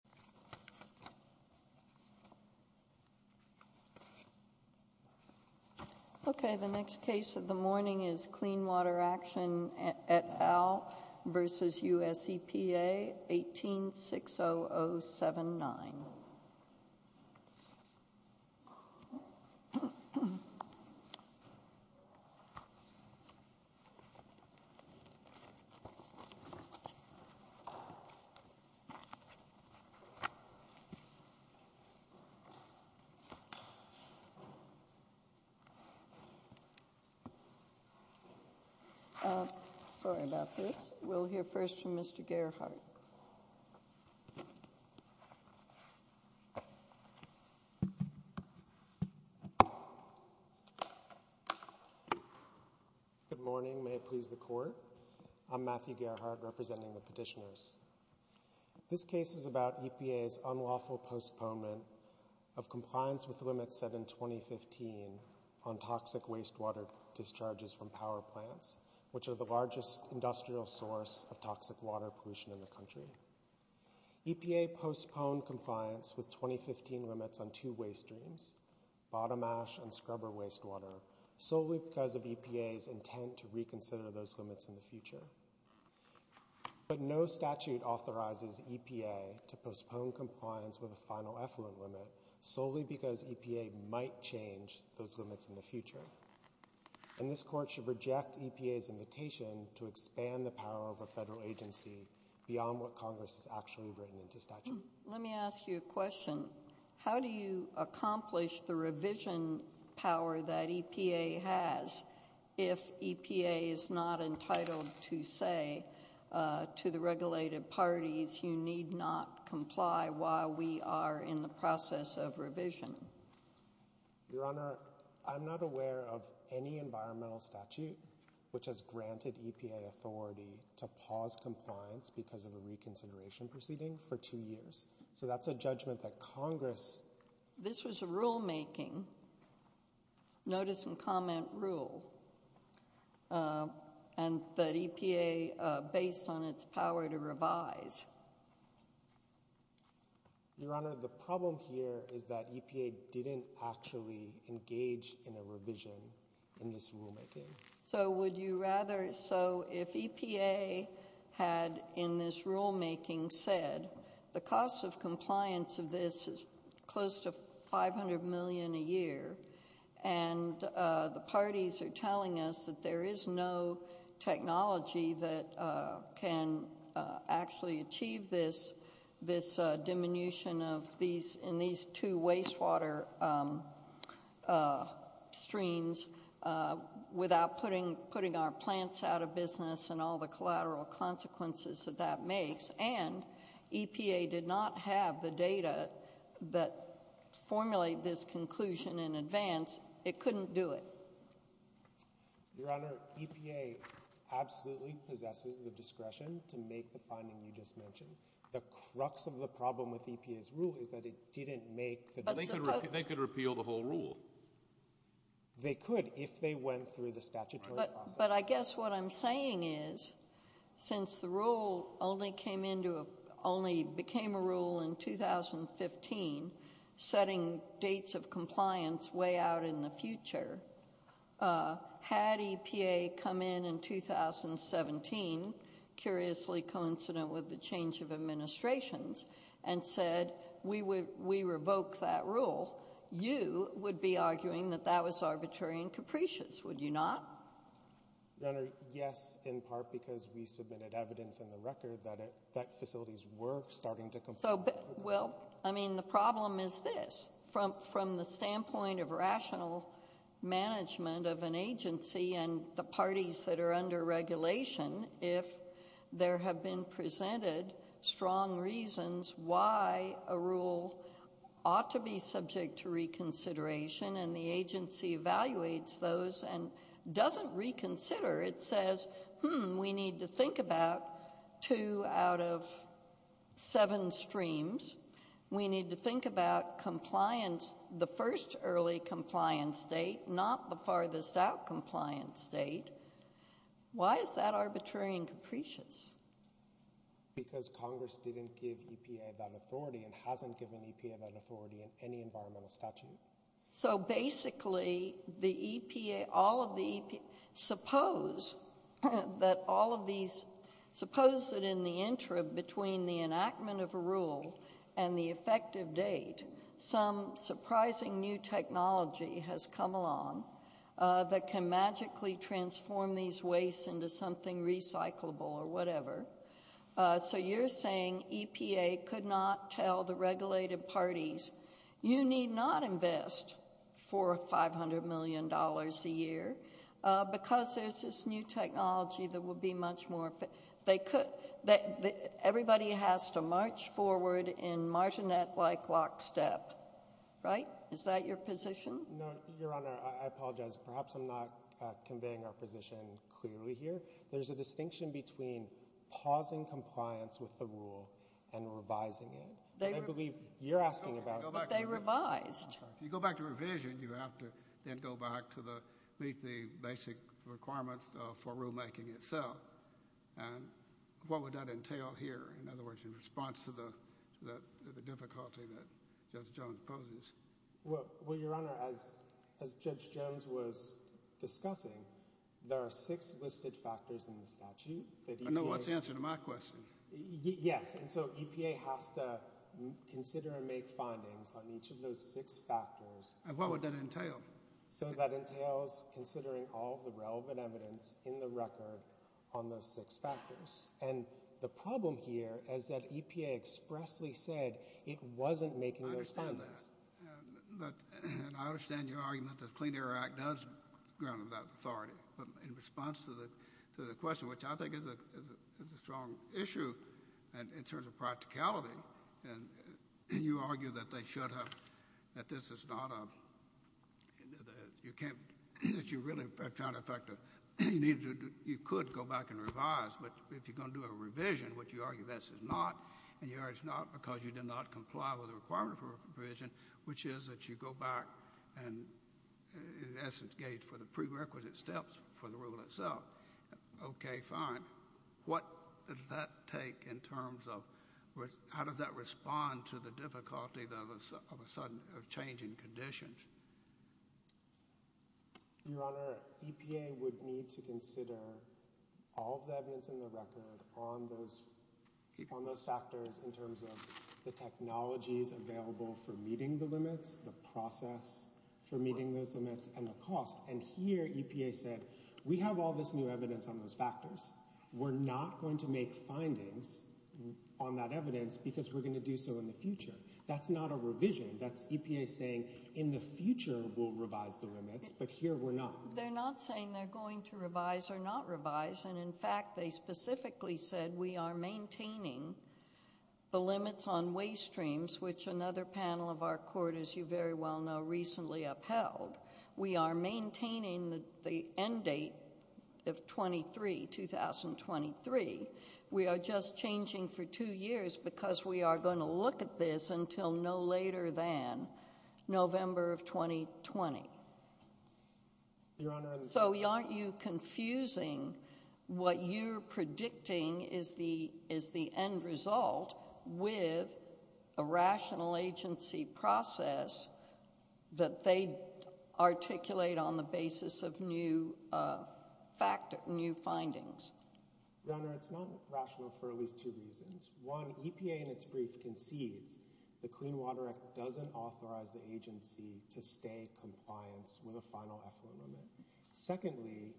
18-60079 Okay, the next case of the morning is Clean Water Action et al. v. U.S. EPA 18-60079. Sorry about this, we'll hear first from Mr. Gerhardt. Good morning, may it please the Court, I'm Matthew Gerhardt representing the petitioners. This case is about EPA's unlawful postponement of compliance with the limits set in 2015 on toxic wastewater discharges from power plants, which are the largest industrial source of toxic water pollution in the country. EPA postponed compliance with 2015 limits on two waste streams, bottom ash and scrubber wastewater, solely because of EPA's intent to reconsider those limits in the future. But no statute authorizes EPA to postpone compliance with a final effluent limit solely And this Court should reject EPA's invitation to expand the power of a federal agency beyond what Congress has actually written into statute. Let me ask you a question. How do you accomplish the revision power that EPA has if EPA is not entitled to say to the regulated parties, you need not comply while we are in the process of revision? Your Honor, I'm not aware of any environmental statute which has granted EPA authority to pause compliance because of a reconsideration proceeding for two years. So that's a judgment that Congress This was a rulemaking, notice and comment rule, and that EPA based on its power to revise. Your Honor, the problem here is that EPA didn't actually engage in a revision in this rulemaking. So would you rather, so if EPA had in this rulemaking said the cost of compliance of this is close to 500 million a year, and the parties are telling us that there is no technology that can actually achieve this, this diminution of these, in these two wastewater streams without putting, putting our plants out of business and all the collateral consequences that that makes, and EPA did not have the data that formulate this conclusion in advance, it couldn't do it. Your Honor, EPA absolutely possesses the discretion to make the finding you just mentioned. The crux of the problem with EPA's rule is that it didn't make the They could repeal the whole rule. They could if they went through the statutory process. But I guess what I'm saying is since the rule only came into, only became a rule in 2015, setting dates of compliance way out in the future, had EPA come in in 2017, curiously coincident with the change of administrations, and said we would, we revoke that rule, you would be arguing that that was arbitrary and capricious, would you not? Your Honor, yes, in part because we submitted evidence in the record that it, that facilities were starting to comply. So, well, I mean, the problem is this. From the standpoint of rational management of an agency and the parties that are under regulation, if there have been presented strong reasons why a rule ought to be subject to reconsideration and the agency evaluates those and doesn't reconsider, it says, hmm, we need to think about two out of seven streams. We need to think about compliance, the first early compliance date, not the farthest out compliance date. Why is that arbitrary and capricious? Because Congress didn't give EPA that authority and hasn't given EPA that authority in any environmental statute. So basically, the EPA, all of the EPA, suppose that all of these, suppose that in the interim between the enactment of a rule and the effective date, some surprising new technology has come along that can magically transform these wastes into something recyclable or whatever. So you're saying EPA could not tell the regulated parties, you need not invest four or five hundred million dollars a year because there's this new technology that will be much more fit, they could, everybody has to march forward in marginet-like lockstep, right? Is that your position? No, Your Honor, I apologize, perhaps I'm not conveying our position clearly here. There's a distinction between pausing compliance with the rule and revising it. I believe you're asking about- But they revised. If you go back to revision, you have to then go back to the basic requirements for rulemaking itself and what would that entail here? In other words, in response to the difficulty that Judge Jones poses. Well, Your Honor, as Judge Jones was discussing, there are six listed factors in the statute that EPA- I know what's the answer to my question. Yes, and so EPA has to consider and make findings on each of those six factors. And what would that entail? So that entails considering all of the relevant evidence in the record on those six factors. And the problem here is that EPA expressly said it wasn't making those findings. And I understand your argument that the Clean Air Act does grant them that authority. But in response to the question, which I think is a strong issue in terms of practicality, you argue that they should have- that this is not a- that you really are trying to effect a- you could go back and revise, but if you're going to do a revision, which you argue this is not, and you argue it's not because you did not comply with the requirement for revision, which is that you go back and, in essence, gauge for the prerequisite steps for the rule itself. Okay, fine. What does that take in terms of- how does that respond to the difficulty of a sudden- of changing conditions? Your Honor, EPA would need to consider all of the evidence in the record on those- on those factors in terms of the technologies available for meeting the limits, the process for meeting those limits, and the cost. And here EPA said, we have all this new evidence on those factors. We're not going to make findings on that evidence because we're going to do so in the future. That's not a revision. That's EPA saying in the future we'll revise the limits, but here we're not. They're not saying they're going to revise or not revise. And, in fact, they specifically said we are maintaining the limits on waste streams, which another panel of our court, as you very well know, recently upheld. We are maintaining the end date of 23, 2023. We are just changing for two years because we are going to look at this until no later than November of 2020. Your Honor- So aren't you confusing what you're predicting is the- is the end result with a rational agency process that they articulate on the basis of new factor- new findings? Your Honor, it's not rational for at least two reasons. One, EPA in its brief concedes the Clean Water Act doesn't authorize the agency to stay in compliance with a final effluent limit. Secondly,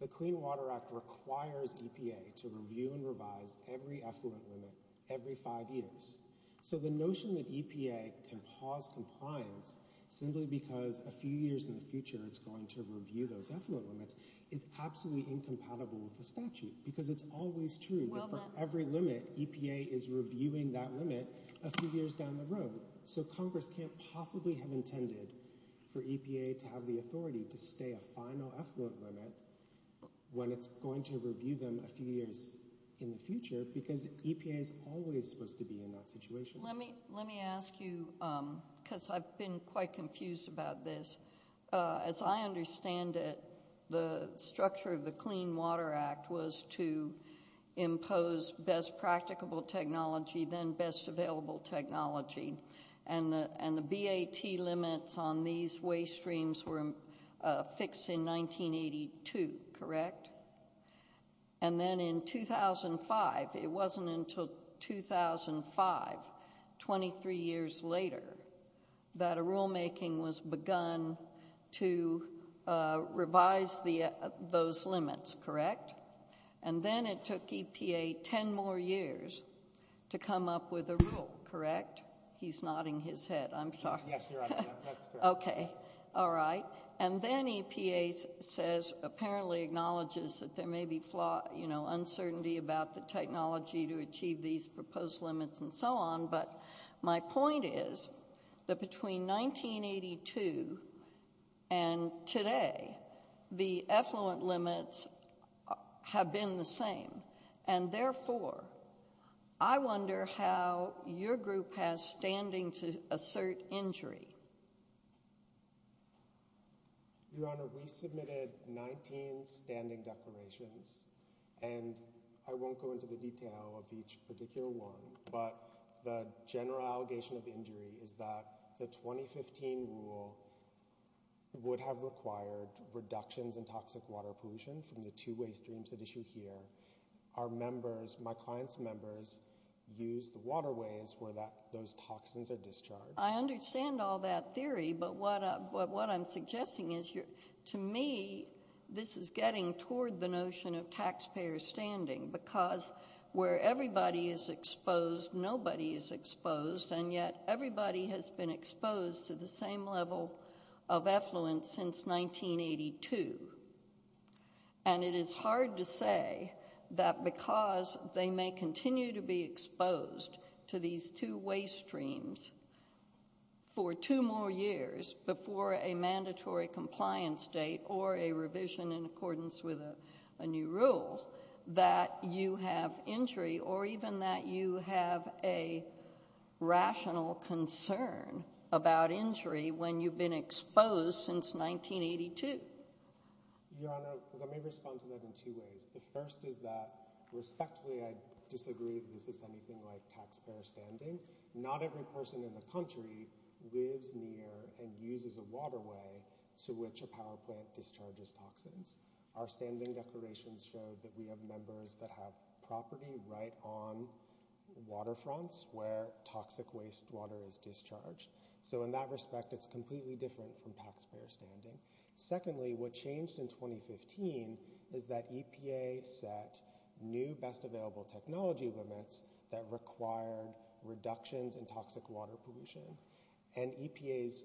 the Clean Water Act requires EPA to review and revise every effluent limit every five years. So, the notion that EPA can pause compliance simply because a few years in the future it's going to review those effluent limits is absolutely incompatible with the statute because it's always true that for every limit, EPA is reviewing that limit a few years down the road. So, Congress can't possibly have intended for EPA to have the authority to stay a final effluent limit when it's going to review them a few years in the future because EPA is always supposed to be in that situation. Let me- let me ask you because I've been quite confused about this. As I understand it, the structure of the Clean Water Act was to impose best practicable technology then best available technology and the- and the BAT limits on these waste streams were fixed in 1982, correct? And then in 2005, it wasn't until 2005, 23 years later, that a rulemaking was begun to revise the- those limits, correct? And then it took EPA 10 more years to come up with a rule, correct? He's nodding his head. I'm sorry. Yes, you're on mute. That's correct. Okay. All right. And then EPA says- apparently acknowledges that there may be flaw- you know, uncertainty about the technology to achieve these proposed limits and so on, but my point is that between 1982 and today, the effluent limits have been the same and therefore, I wonder how your group has standing to assert injury. Your Honor, we submitted 19 standing declarations and I won't go into the detail of each particular one, but the general allegation of injury is that the 2015 rule would have required reductions in toxic water pollution from the two waste streams that issue here. Our members, my client's members, use the waterways where that- those toxins are discharged. I understand all that theory, but what I'm suggesting is you're- to me, this is getting toward the notion of taxpayer standing because where everybody is exposed, nobody is exposed and yet everybody has been exposed to the same level of effluents since 1982 and it is hard to say that because they may continue to be exposed to these two waste streams for two more years before a mandatory compliance date or a revision in accordance with a new rule that you have injury or even that you have a rational concern about injury when you've been exposed since 1982. Your Honor, let me respond to that in two ways. The first is that respectfully, I disagree that this is anything like taxpayer standing. Not every person in the country lives near and uses a waterway to which a power plant discharges toxins. Our standing declarations show that we have members that have property right on water fronts where toxic wastewater is discharged. So in that respect, it's completely different from taxpayer standing. Secondly, what changed in 2015 is that EPA set new best available technology limits that required reductions in toxic water pollution and EPA's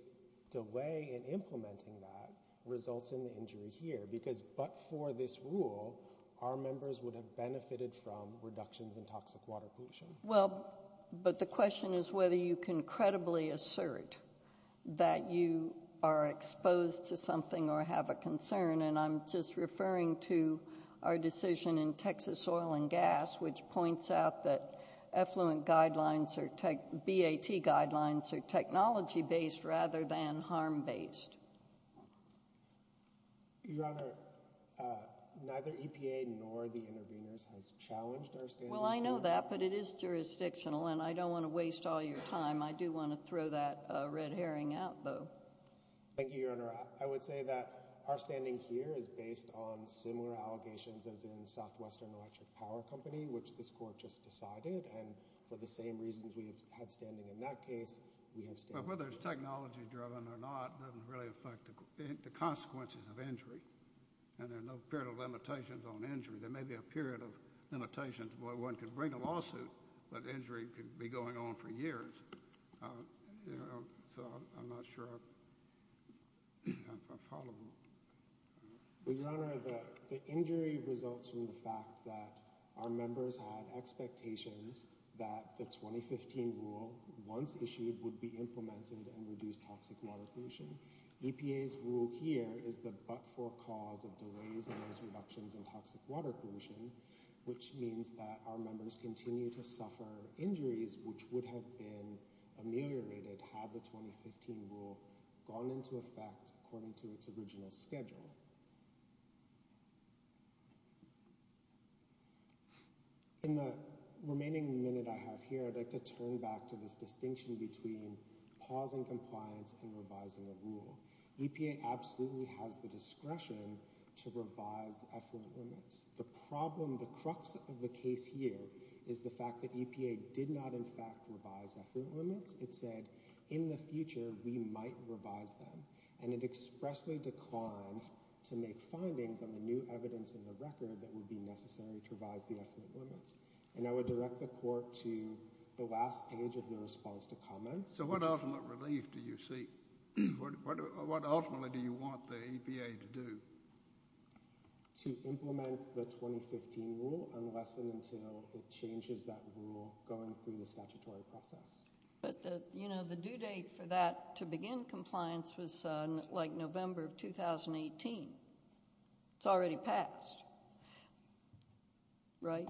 delay in implementing that results in the injury here because but for this rule, our members would have benefited from reductions in toxic water pollution. Well, but the question is whether you can credibly assert that you are exposed to something or have a concern and I'm just referring to our decision in Texas Oil and Gas which points out that effluent guidelines or BAT guidelines are technology-based rather than harm-based. Your Honor, neither EPA nor the intervenors has challenged our standing here. Well, I know that but it is jurisdictional and I don't want to waste all your time. I do want to throw that red herring out though. Thank you, Your Honor. I would say that our standing here is based on similar allegations as in Southwestern Electric Power Company which this court just decided and for the same reasons we have had standing in that case, we have standing. But whether it's technology-driven or not doesn't really affect the consequences of injury and there are no period of limitations on injury. There may be a period of limitations where one could bring a lawsuit but injury could be going on for years. So I'm not sure if I'm followable. Well, Your Honor, the injury results from the fact that our members had expectations that the 2015 rule, once issued, would be implemented and reduce toxic water pollution. EPA's rule here is the but-for cause of delays and those reductions in toxic water pollution which means that our members continue to suffer injuries which would have been ameliorated had the 2015 rule gone into effect according to its original schedule. In the remaining minute I have here, I'd like to turn back to this distinction between pausing compliance and revising the rule. EPA absolutely has the discretion to revise effort limits. The problem, the crux of the case here is the fact that EPA did not in fact revise effort limits. It said in the future we might revise them and it expressly declined to make findings on the new evidence in the record that would be necessary to revise the effort limits. And I would direct the court to the last page of the response to comments. So what ultimate relief do you seek? What ultimately do you want the EPA to do? To implement the 2015 rule unless and until it changes that rule going through the statutory process. But, you know, the due date for that to begin compliance was like November of 2018. It's already passed. Right?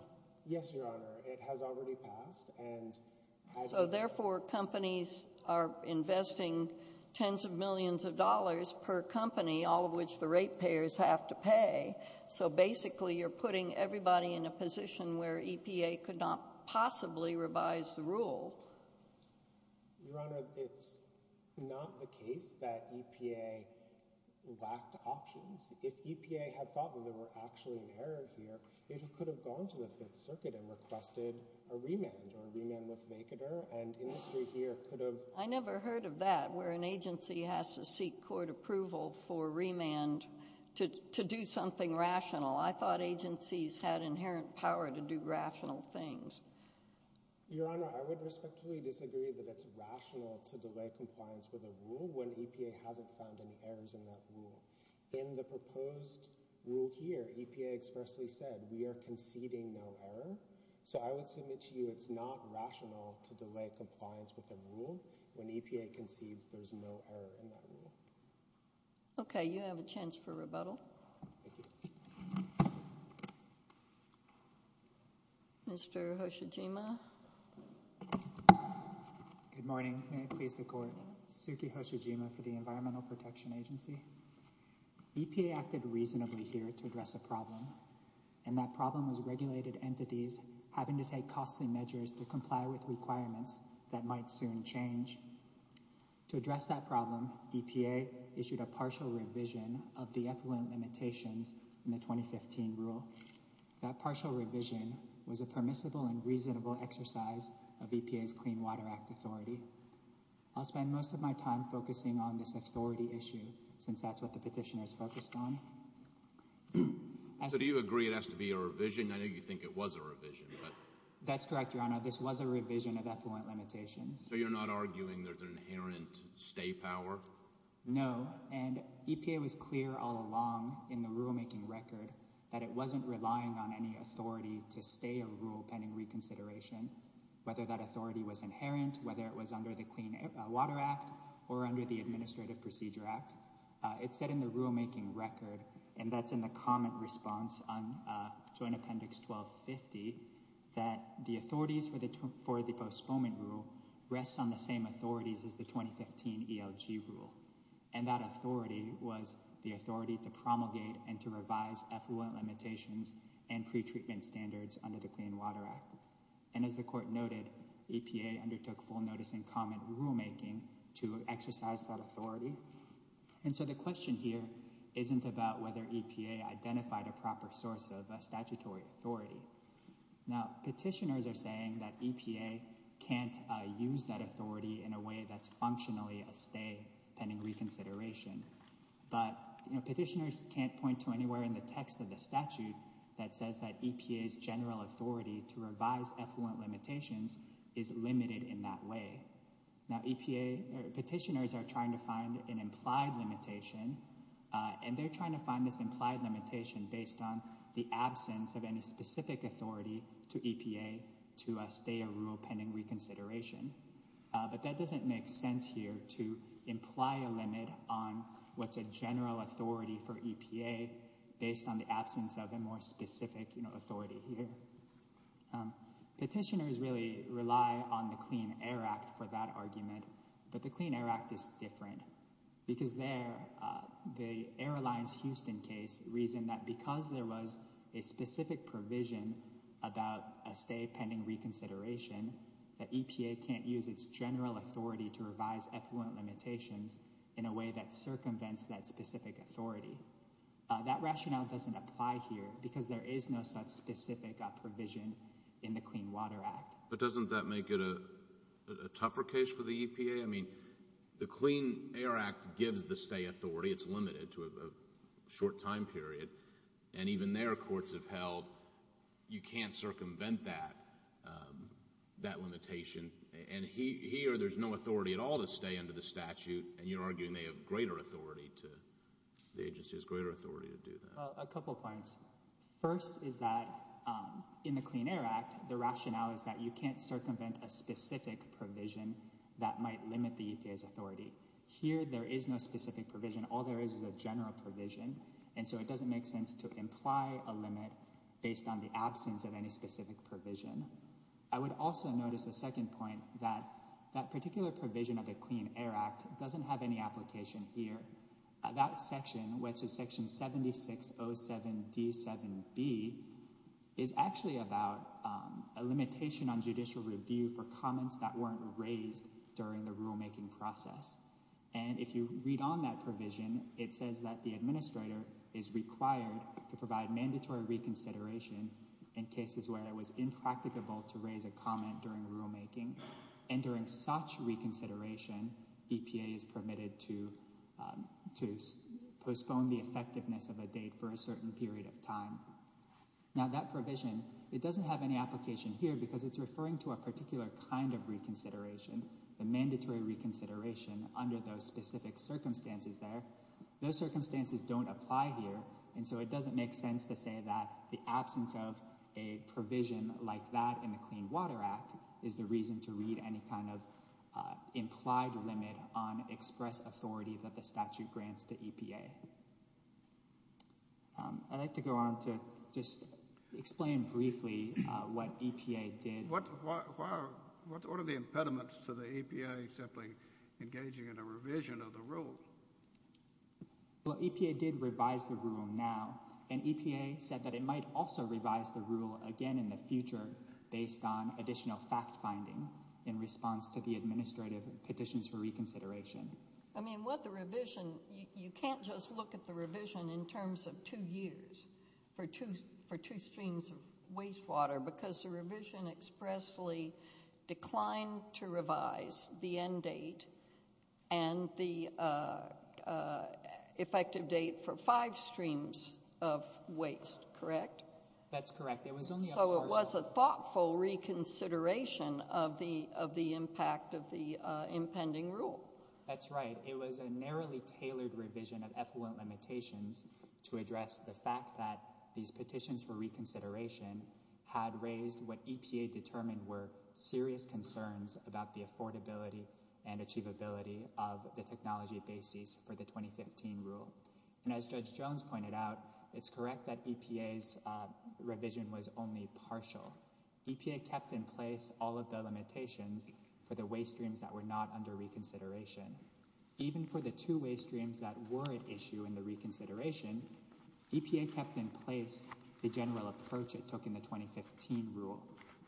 Yes, Your Honor. It has already passed. So therefore companies are investing tens of millions of dollars per company, all of which the rate payers have to pay. So basically you're putting everybody in a position where EPA could not possibly revise the rule. Your Honor, it's not the case that EPA lacked options. If EPA had thought that there were actually an error here, it could have gone to the Fifth Circuit and requested a remand or a remand with vacater and industry here could have I never heard of that, where an agency has to seek court approval for remand to do something rational. I thought agencies had inherent power to do rational things. Your Honor, I would respectfully disagree that it's rational to delay compliance with a rule when EPA hasn't found any errors in that rule. In the proposed rule here, EPA expressly said we are conceding no error. So I would submit to you it's not rational to delay compliance with a rule when EPA concedes there's no error in that rule. Okay. You have a chance for rebuttal. Mr. Hoshijima. Good morning. May it please the court. Suki Hoshijima for the Environmental Protection Agency. EPA acted reasonably here to address a problem. And that problem was regulated entities having to take costly measures to comply with requirements that might soon change. To address that problem, EPA issued a partial revision of the effluent limitations in the 2015 rule. That partial revision was a permissible and reasonable exercise of EPA's Clean Water Act authority. I'll spend most of my time focusing on this authority issue since that's what the petitioner is focused on. So do you agree it has to be a revision? I know you think it was a revision. That's correct, Your Honor. This was a revision of effluent limitations. So you're not arguing there's an inherent stay power? No. And EPA was clear all along in the rulemaking record that it wasn't relying on any authority to stay a rule pending reconsideration, whether that authority was inherent, whether it was under the Clean Water Act or under the Administrative Procedure Act. It said in the rulemaking record, and that's in the comment response on Joint Appendix 1250, that the authorities for the postponement rule rests on the same authorities as the 2015 ELG rule. And that authority was the authority to promulgate and to revise effluent limitations and pretreatment standards under the Clean Water Act. And as the Court noted, EPA undertook full notice and comment rulemaking to exercise that authority. And so the question here isn't about whether EPA identified a proper source of statutory authority. Now, petitioners are saying that EPA can't use that authority in a way that's functionally a stay pending reconsideration. But petitioners can't point to anywhere in the text of the statute that says that EPA's general authority to revise effluent limitations is limited in that way. Now, petitioners are trying to find an implied limitation, and they're trying to find this implied limitation based on the absence of any specific authority to EPA to stay a rule pending reconsideration. But that doesn't make sense here to imply a limit on what's a general authority for EPA based on the absence of a more specific authority here. Petitioners really rely on the Clean Air Act for that argument, but the Clean Air Act is different. Because there, the Airlines Houston case reasoned that because there was a specific provision about a stay pending reconsideration, that EPA can't use its general authority to revise effluent limitations in a way that circumvents that specific authority. That rationale doesn't apply here because there is no such specific provision in the Clean Water Act. But doesn't that make it a tougher case for the EPA? I mean, the Clean Air Act gives the stay authority. It's limited to a short time period, and even their courts have held you can't circumvent that limitation. And here, there's no authority at all to stay under the statute, and you're arguing they have greater authority to, the agency has greater authority to do that. A couple points. First is that in the Clean Air Act, the rationale is that you can't circumvent a specific provision that might limit the EPA's authority. Here, there is no specific provision. All there is is a general provision, and so it doesn't make sense to imply a limit based on the absence of any specific provision. I would also notice a second point, that that particular provision of the Clean Air Act doesn't have any application here. That section, which is section 7607D7B, is actually about a limitation on judicial review for comments that weren't raised during the rulemaking process. And if you read on that provision, it says that the administrator is required to provide mandatory reconsideration in cases where it was impracticable to raise a comment during rulemaking. And during such reconsideration, EPA is permitted to postpone the effectiveness of a date for a certain period of time. Now that provision, it doesn't have any application here because it's referring to a particular kind of reconsideration, the mandatory reconsideration under those specific circumstances there. Those circumstances don't apply here, and so it doesn't make sense to say that the absence of a provision like that in the Clean Water Act is the reason to read any kind of implied limit on express authority that the statute grants to EPA. I'd like to go on to just explain briefly what EPA did. What are the impediments to the EPA simply engaging in a revision of the rule? Well, EPA did revise the rule now, and EPA said that it might also revise the rule again in the future based on additional fact-finding in response to the administrative petitions for reconsideration. I mean, with the revision, you can't just look at the revision in terms of two years for two streams of wastewater because the revision expressly declined to revise the end date and the effective date for five streams of waste, correct? That's correct. So it was a thoughtful reconsideration of the impact of the impending rule. That's right. It was a narrowly tailored revision of effluent limitations to address the fact that these petitions for reconsideration had raised what EPA determined were serious concerns about the affordability and achievability of the technology basis for the 2015 rule. And as Judge Jones pointed out, it's correct that EPA's revision was only partial. EPA kept in place all of the limitations for the waste streams that were not under reconsideration. Even for the two waste streams that were at issue in the reconsideration, EPA kept in place the general approach it took in the 2015 rule,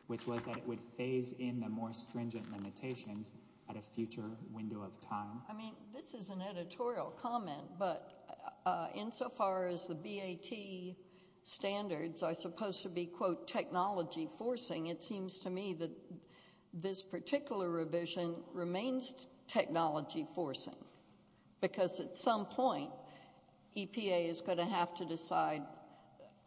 which was that it would phase in the more stringent limitations at a future window of time. I mean, this is an editorial comment, but insofar as the BAT standards are supposed to be, quote, technology forcing, it seems to me that this particular revision remains technology forcing because at some point, EPA is going to have to decide,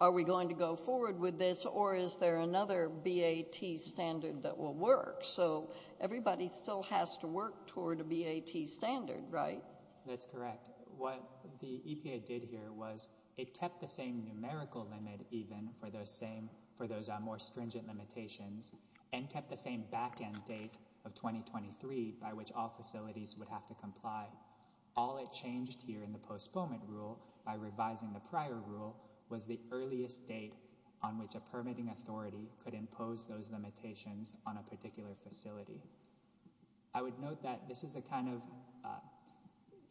are we going to go forward with this or is there another BAT standard that will work? So everybody still has to work toward a BAT standard, right? That's correct. What the EPA did here was it kept the same numerical limit even for those more stringent limitations and kept the same backend date of 2023 by which all facilities would have to comply. All it changed here in the postponement rule by revising the prior rule was the earliest date on which a permitting authority could impose those limitations on a particular facility. I would note that this is a kind of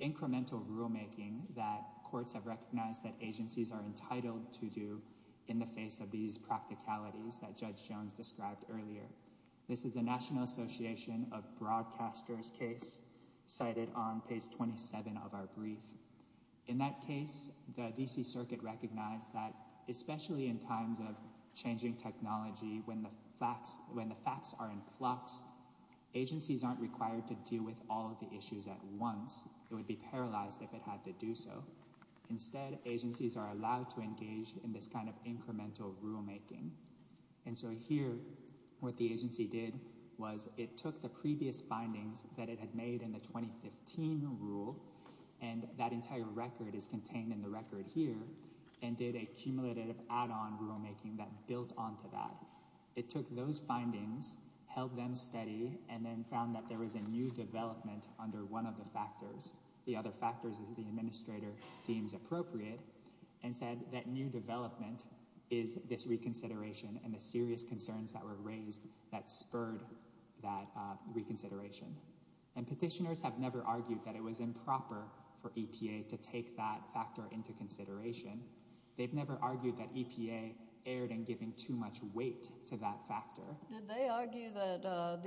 incremental rulemaking that courts have recognized that agencies are entitled to do in the face of these practicalities that Judge Jones described earlier. This is a National Association of Broadcasters case cited on page 27 of our brief. In that case, the D.C. Circuit recognized that especially in times of changing technology, when the facts are in flux, agencies aren't required to deal with all of the issues at once. It would be paralyzed if it had to do so. Instead, agencies are allowed to engage in this kind of incremental rulemaking. Here what the agency did was it took the previous findings that it had made in the 2015 rule, and that entire record is contained in the record here, and did a cumulative add-on rulemaking that built onto that. It took those findings, held them steady, and then found that there was a new development under one of the factors. The other factors, as the administrator deems appropriate, and said that new development is this reconsideration and the serious concerns that were raised that spurred that reconsideration. Petitioners have never argued that it was improper for EPA to take that factor into consideration. They've never argued that EPA erred in giving too much weight to that factor. Did they argue that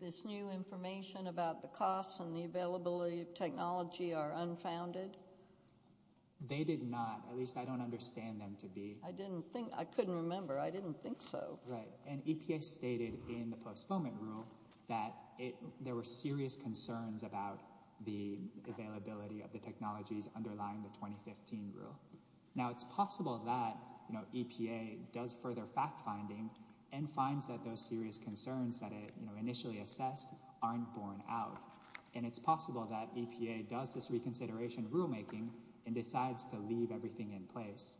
this new information about the costs and the availability of technology are unfounded? They did not. At least I don't understand them to be. I couldn't remember. I didn't think so. Right. EPA stated in the postponement rule that there were serious concerns about the availability of the technologies underlying the 2015 rule. Now it's possible that EPA does further fact-finding and finds that those serious concerns that it initially assessed aren't borne out. And it's possible that EPA does this reconsideration rulemaking and decides to leave everything in place.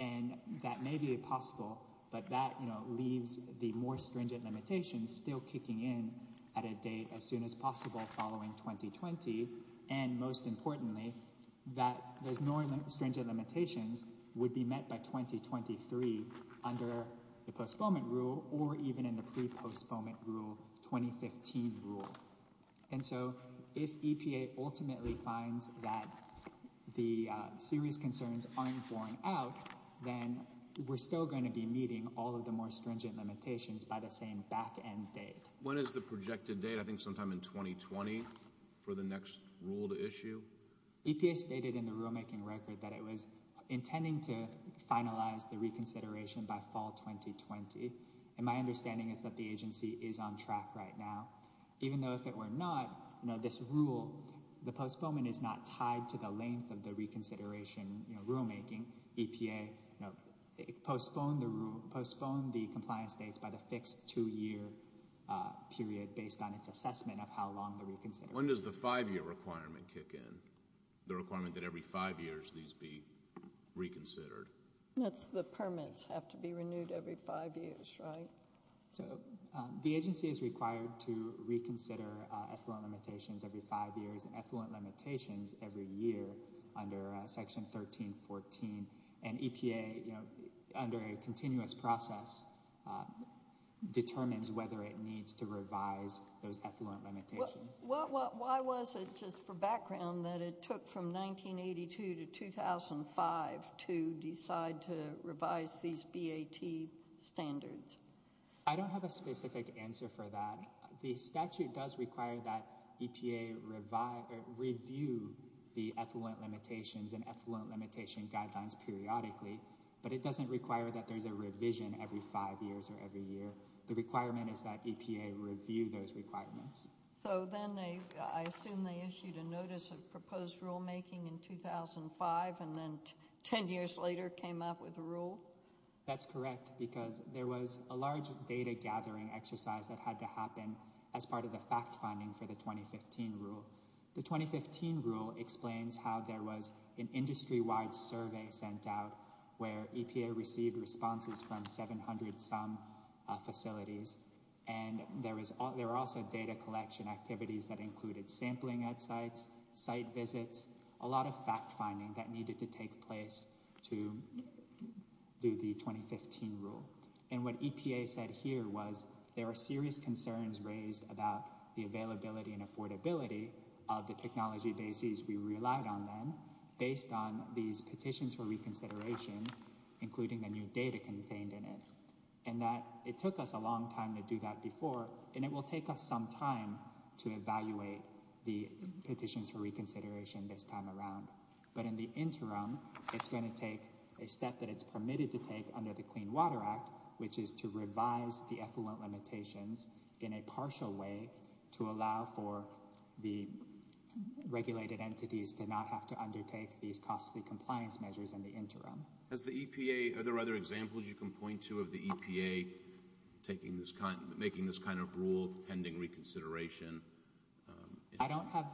And that may be possible, but that leaves the more stringent limitations still kicking in at a date as soon as possible following 2020. And most importantly, those more stringent limitations would be met by 2023 under the postponement rule or even in the pre-postponement rule, 2015 rule. And so if EPA ultimately finds that the serious concerns aren't borne out, then we're still going to be meeting all of the more stringent limitations by the same back-end date. When is the projected date? I think sometime in 2020 for the next rule to issue? EPA stated in the rulemaking record that it was intending to finalize the reconsideration by fall 2020. And my understanding is that the agency is on track right now. Even though if it were not, this rule, the postponement is not tied to the length of the reconsideration rulemaking. EPA postponed the compliance dates by the fixed two-year period based on its assessment of how long the reconsideration was. When does the five-year requirement kick in, the requirement that every five years these be reconsidered? The permits have to be renewed every five years, right? The agency is required to reconsider effluent limitations every five years and effluent limitations every year under Section 1314. And EPA, under a continuous process, determines whether it needs to revise those effluent limitations. Why was it, just for background, that it took from 1982 to 2005 to decide to revise these BAT standards? I don't have a specific answer for that. The statute does require that EPA review the effluent limitations and effluent limitation guidelines periodically. But it doesn't require that there's a revision every five years or every year. The requirement is that EPA review those requirements. So then I assume they issued a notice of proposed rulemaking in 2005 and then ten years later came up with a rule? That's correct because there was a large data gathering exercise that had to happen as part of the fact-finding for the 2015 rule. The 2015 rule explains how there was an industry-wide survey sent out where EPA received responses from 700-some facilities. And there were also data collection activities that included sampling at sites, site visits, a lot of fact-finding that needed to take place to do the 2015 rule. And what EPA said here was there are serious concerns raised about the availability and affordability of the technology bases we relied on then, based on these petitions for reconsideration, including the new data contained in it. And that it took us a long time to do that before, and it will take us some time to evaluate the petitions for reconsideration this time around. But in the interim, it's going to take a step that it's permitted to take under the Clean Water Act, which is to revise the effluent limitations in a partial way to allow for the regulated entities to not have to undertake these costly compliance measures in the interim. Are there other examples you can point to of the EPA making this kind of rule, pending reconsideration? I don't have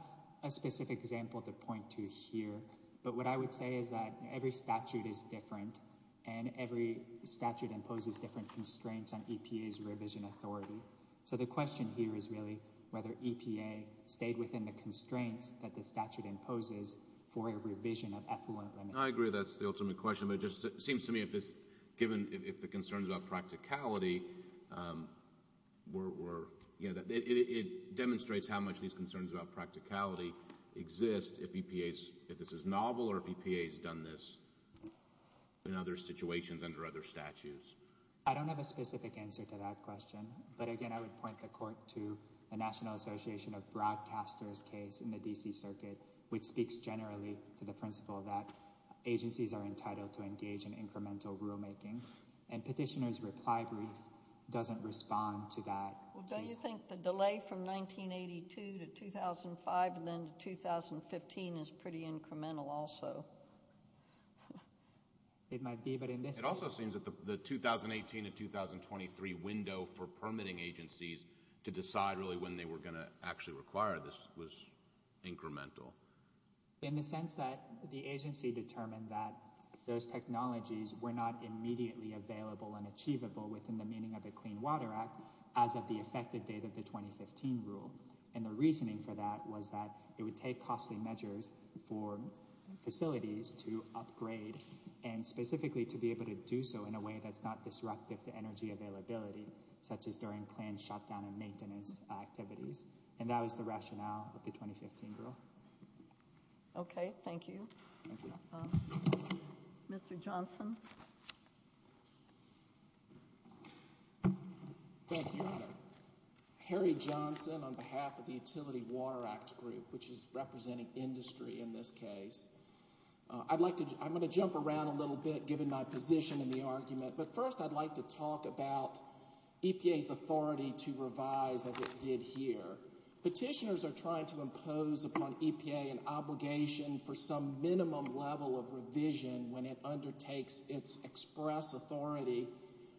a specific example to point to here. But what I would say is that every statute is different, and every statute imposes different constraints on EPA's revision authority. So the question here is really whether EPA stayed within the constraints that the statute imposes for a revision of effluent limits. I agree that's the ultimate question. It seems to me if the concerns about practicality were – it demonstrates how much these concerns about practicality exist if EPA's – if this is novel or if EPA's done this in other situations under other statutes. I don't have a specific answer to that question. But again, I would point the Court to the National Association of Broadcasters case in the D.C. Circuit, which speaks generally to the principle that agencies are entitled to engage in incremental rulemaking. And Petitioner's reply brief doesn't respond to that. Well, don't you think the delay from 1982 to 2005 and then to 2015 is pretty incremental also? It might be, but in this case – In the sense that the agency determined that those technologies were not immediately available and achievable within the meaning of the Clean Water Act as of the effective date of the 2015 rule. And the reasoning for that was that it would take costly measures for facilities to upgrade and specifically to be able to do so in a way that's not disruptive to energy availability, such as during planned shutdown and maintenance activities. And that was the rationale of the 2015 rule. Okay. Thank you. Thank you. Mr. Johnson. Thank you, Your Honor. Harry Johnson on behalf of the Utility Water Act Group, which is representing industry in this case. I'd like to – I'm going to jump around a little bit, given my position in the argument. But first I'd like to talk about EPA's authority to revise as it did here. Petitioners are trying to impose upon EPA an obligation for some minimum level of revision when it undertakes its express authority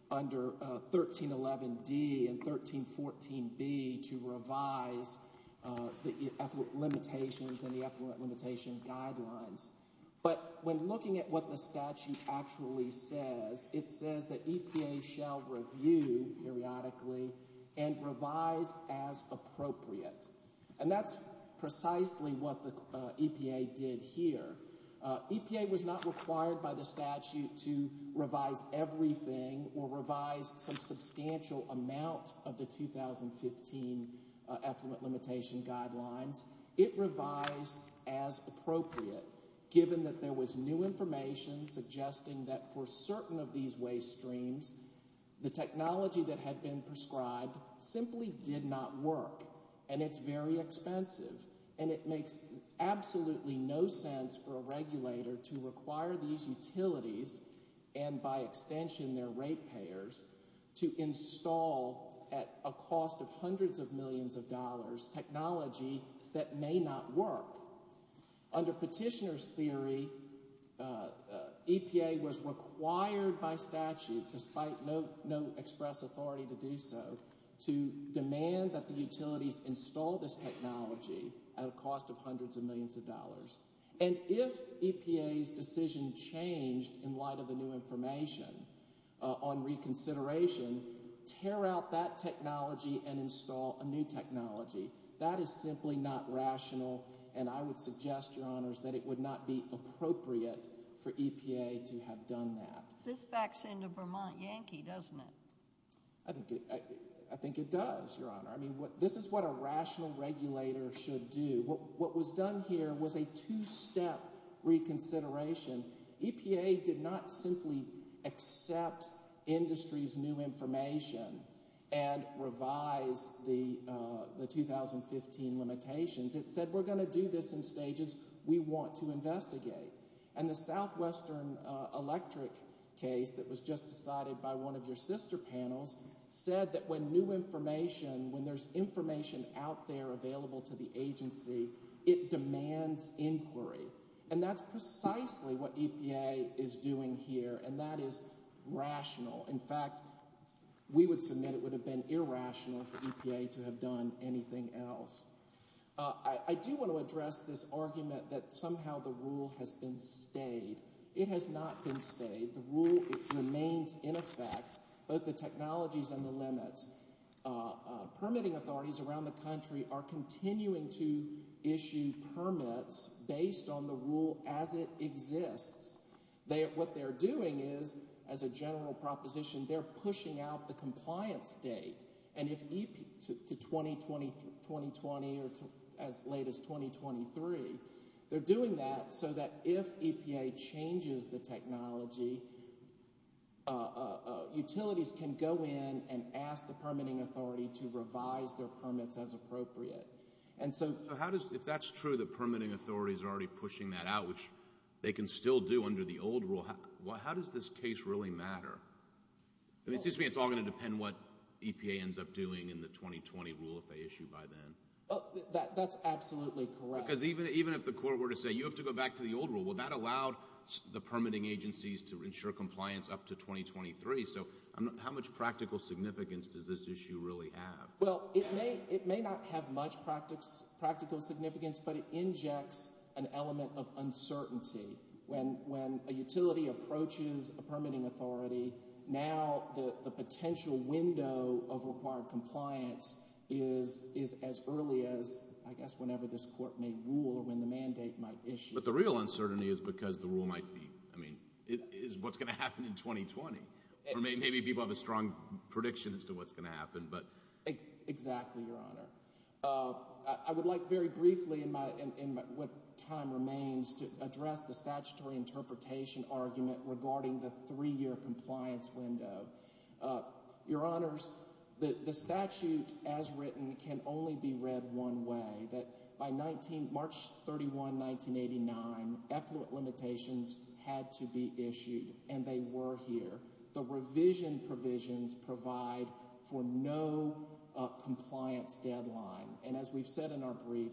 under 1311D and 1314B to revise the effluent limitations and the effluent limitation guidelines. But when looking at what the statute actually says, it says that EPA shall review periodically and revise as appropriate. And that's precisely what the EPA did here. EPA was not required by the statute to revise everything or revise some substantial amount of the 2015 effluent limitation guidelines. It revised as appropriate, given that there was new information suggesting that for certain of these waste streams, the technology that had been prescribed simply did not work. And it's very expensive. And it makes absolutely no sense for a regulator to require these utilities, and by extension their rate payers, to install at a cost of hundreds of millions of dollars, technology that may not work. Under petitioner's theory, EPA was required by statute, despite no express authority to do so, to demand that the utilities install this technology at a cost of hundreds of millions of dollars. And if EPA's decision changed in light of the new information on reconsideration, tear out that technology and install a new technology. That is simply not rational, and I would suggest, Your Honors, that it would not be appropriate for EPA to have done that. This backs into Vermont Yankee, doesn't it? I think it does, Your Honor. This is what a rational regulator should do. What was done here was a two-step reconsideration. EPA did not simply accept industry's new information and revise the 2015 limitations. It said we're going to do this in stages we want to investigate. And the Southwestern Electric case that was just decided by one of your sister panels said that when new information, when there's information out there available to the agency, it demands inquiry. And that's precisely what EPA is doing here, and that is rational. In fact, we would submit it would have been irrational for EPA to have done anything else. I do want to address this argument that somehow the rule has been stayed. It has not been stayed. The rule remains in effect, both the technologies and the limits. Permitting authorities around the country are continuing to issue permits based on the rule as it exists. What they're doing is, as a general proposition, they're pushing out the compliance date to 2020 or as late as 2023. They're doing that so that if EPA changes the technology, utilities can go in and ask the permitting authority to revise their permits as appropriate. If that's true, the permitting authorities are already pushing that out, which they can still do under the old rule, how does this case really matter? It seems to me it's all going to depend on what EPA ends up doing in the 2020 rule if they issue by then. That's absolutely correct. Because even if the court were to say, you have to go back to the old rule, that allowed the permitting agencies to ensure compliance up to 2023. How much practical significance does this issue really have? It may not have much practical significance, but it injects an element of uncertainty. When a utility approaches a permitting authority, now the potential window of required compliance is as early as, I guess, whenever this court may rule or when the mandate might issue. But the real uncertainty is because the rule might be, I mean, is what's going to happen in 2020? Or maybe people have a strong prediction as to what's going to happen. Exactly, Your Honor. I would like very briefly in what time remains to address the statutory interpretation argument regarding the three-year compliance window. Your Honors, the statute as written can only be read one way, that by March 31, 1989, effluent limitations had to be issued, and they were here. The revision provisions provide for no compliance deadline. And as we've said in our brief,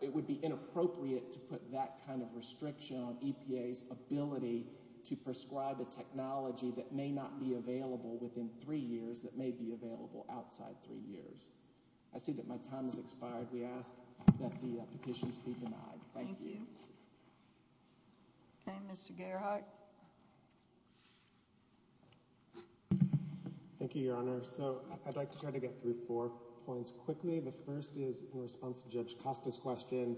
it would be inappropriate to put that kind of restriction on EPA's ability to prescribe a technology that may not be available within three years that may be available outside three years. I see that my time has expired. We ask that the petitions be denied. Thank you. Okay, Mr. Gerhart. Thank you, Your Honor. So I'd like to try to get through four points quickly. The first is, in response to Judge Costa's question,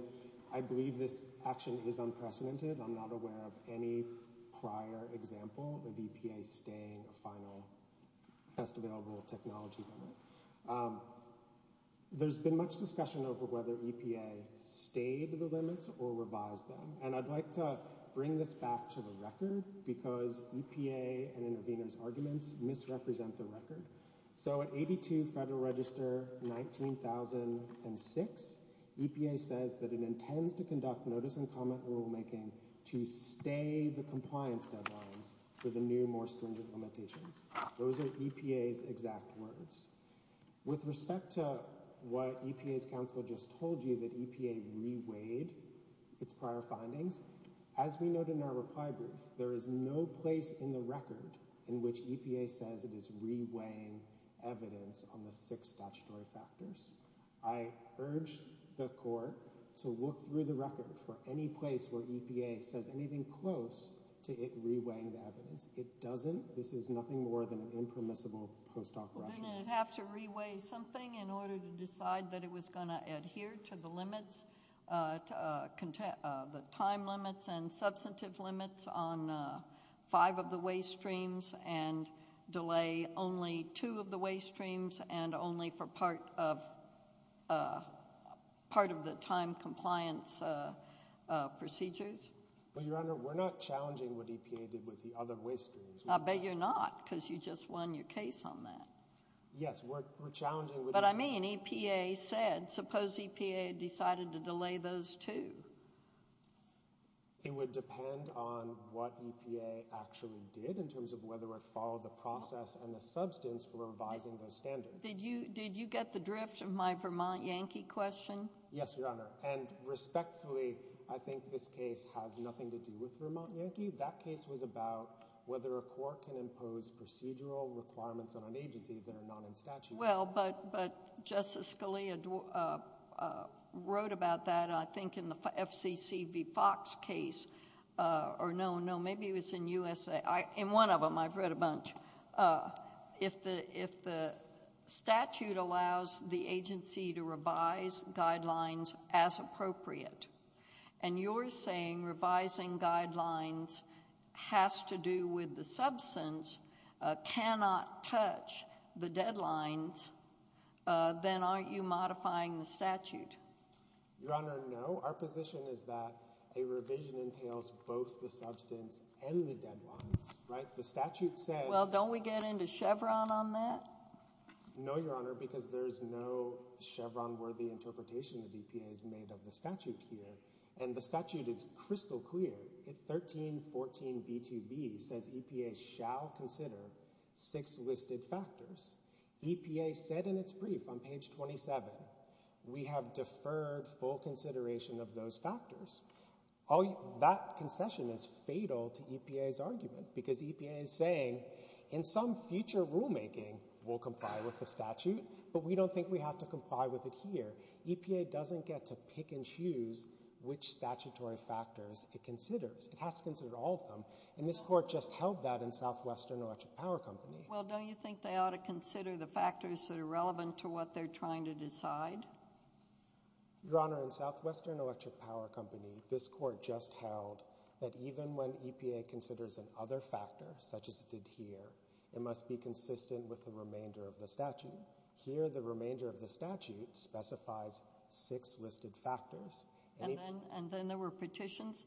I believe this action is unprecedented. I'm not aware of any prior example of EPA staying a final test-available technology limit. There's been much discussion over whether EPA stayed the limits or revised them. And I'd like to bring this back to the record because EPA and interveners' arguments misrepresent the record. So at 82 Federal Register 19,006, EPA says that it intends to conduct notice and comment rulemaking to stay the compliance deadlines for the new, more stringent limitations. Those are EPA's exact words. With respect to what EPA's counsel just told you, that EPA reweighed its prior findings, as we note in our reply brief, there is no place in the record in which EPA says it is reweighing evidence on the six statutory factors. I urge the court to look through the record for any place where EPA says anything close to it reweighing the evidence. It doesn't. This is nothing more than an impermissible post-op rush. Didn't it have to reweigh something in order to decide that it was going to adhere to the limits, the time limits and substantive limits on five of the way streams and delay only two of the way streams and only for part of the time compliance procedures? Well, Your Honor, we're not challenging what EPA did with the other way streams. I bet you're not, because you just won your case on that. Yes, we're challenging. But I mean, EPA said, suppose EPA decided to delay those two. It would depend on what EPA actually did in terms of whether it followed the process and the substance for revising those standards. Did you get the drift of my Vermont Yankee question? Yes, Your Honor. And respectfully, I think this case has nothing to do with Vermont Yankee. That case was about whether a court can impose procedural requirements on an agency that are not in statute. Well, but Justice Scalia wrote about that, I think, in the FCC v. Fox case or no, no, maybe it was in USA. In one of them, I've read a bunch. If the statute allows the agency to revise guidelines as appropriate, and you're saying revising guidelines has to do with the substance, cannot touch the deadlines, then aren't you modifying the statute? Your Honor, no. Our position is that a revision entails both the substance and the deadlines. Well, don't we get into Chevron on that? No, Your Honor, because there's no Chevron-worthy interpretation that EPA has made of the statute here. And the statute is crystal clear. 1314b2b says EPA shall consider six listed factors. EPA said in its brief on page 27, we have deferred full consideration of those factors. That concession is fatal to EPA's argument, because EPA is saying, in some future rulemaking, we'll comply with the statute, but we don't think we have to comply with it here. EPA doesn't get to pick and choose which statutory factors it considers. It has to consider all of them, and this court just held that in Southwestern Electric Power Company. Well, don't you think they ought to consider the factors that are relevant to what they're trying to decide? Your Honor, in Southwestern Electric Power Company, this court just held that even when EPA considers an other factor, such as it did here, it must be consistent with the remainder of the statute. Here, the remainder of the statute specifies six listed factors. And then there were petitions.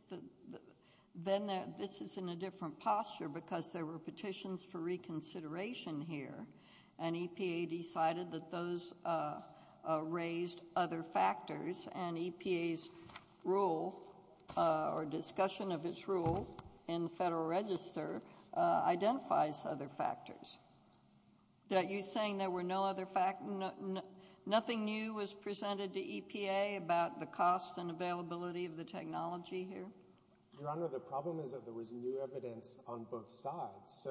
Then this is in a different posture, because there were petitions for reconsideration here, and EPA decided that those raised other factors, and EPA's rule or discussion of its rule in the Federal Register identifies other factors. You're saying there were no other factors? Nothing new was presented to EPA about the cost and availability of the technology here? Your Honor, the problem is that there was new evidence on both sides.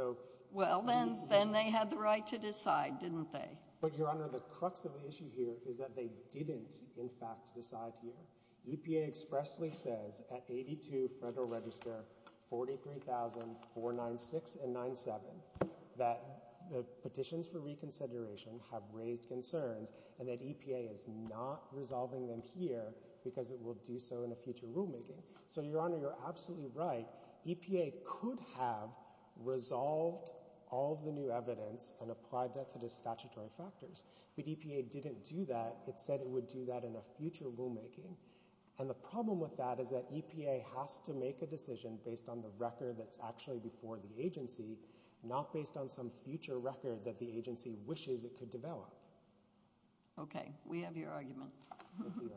Well, then they had the right to decide, didn't they? But, Your Honor, the crux of the issue here is that they didn't, in fact, decide here. EPA expressly says at 82 Federal Register 43,496 and 97 that the petitions for reconsideration have raised concerns, and that EPA is not resolving them here because it will do so in a future rulemaking. So, Your Honor, you're absolutely right. EPA could have resolved all of the new evidence and applied that to the statutory factors. But EPA didn't do that. It said it would do that in a future rulemaking. And the problem with that is that EPA has to make a decision based on the record that's actually before the agency, not based on some future record that the agency wishes it could develop. Okay. We have your argument. Thank you, Your Honor.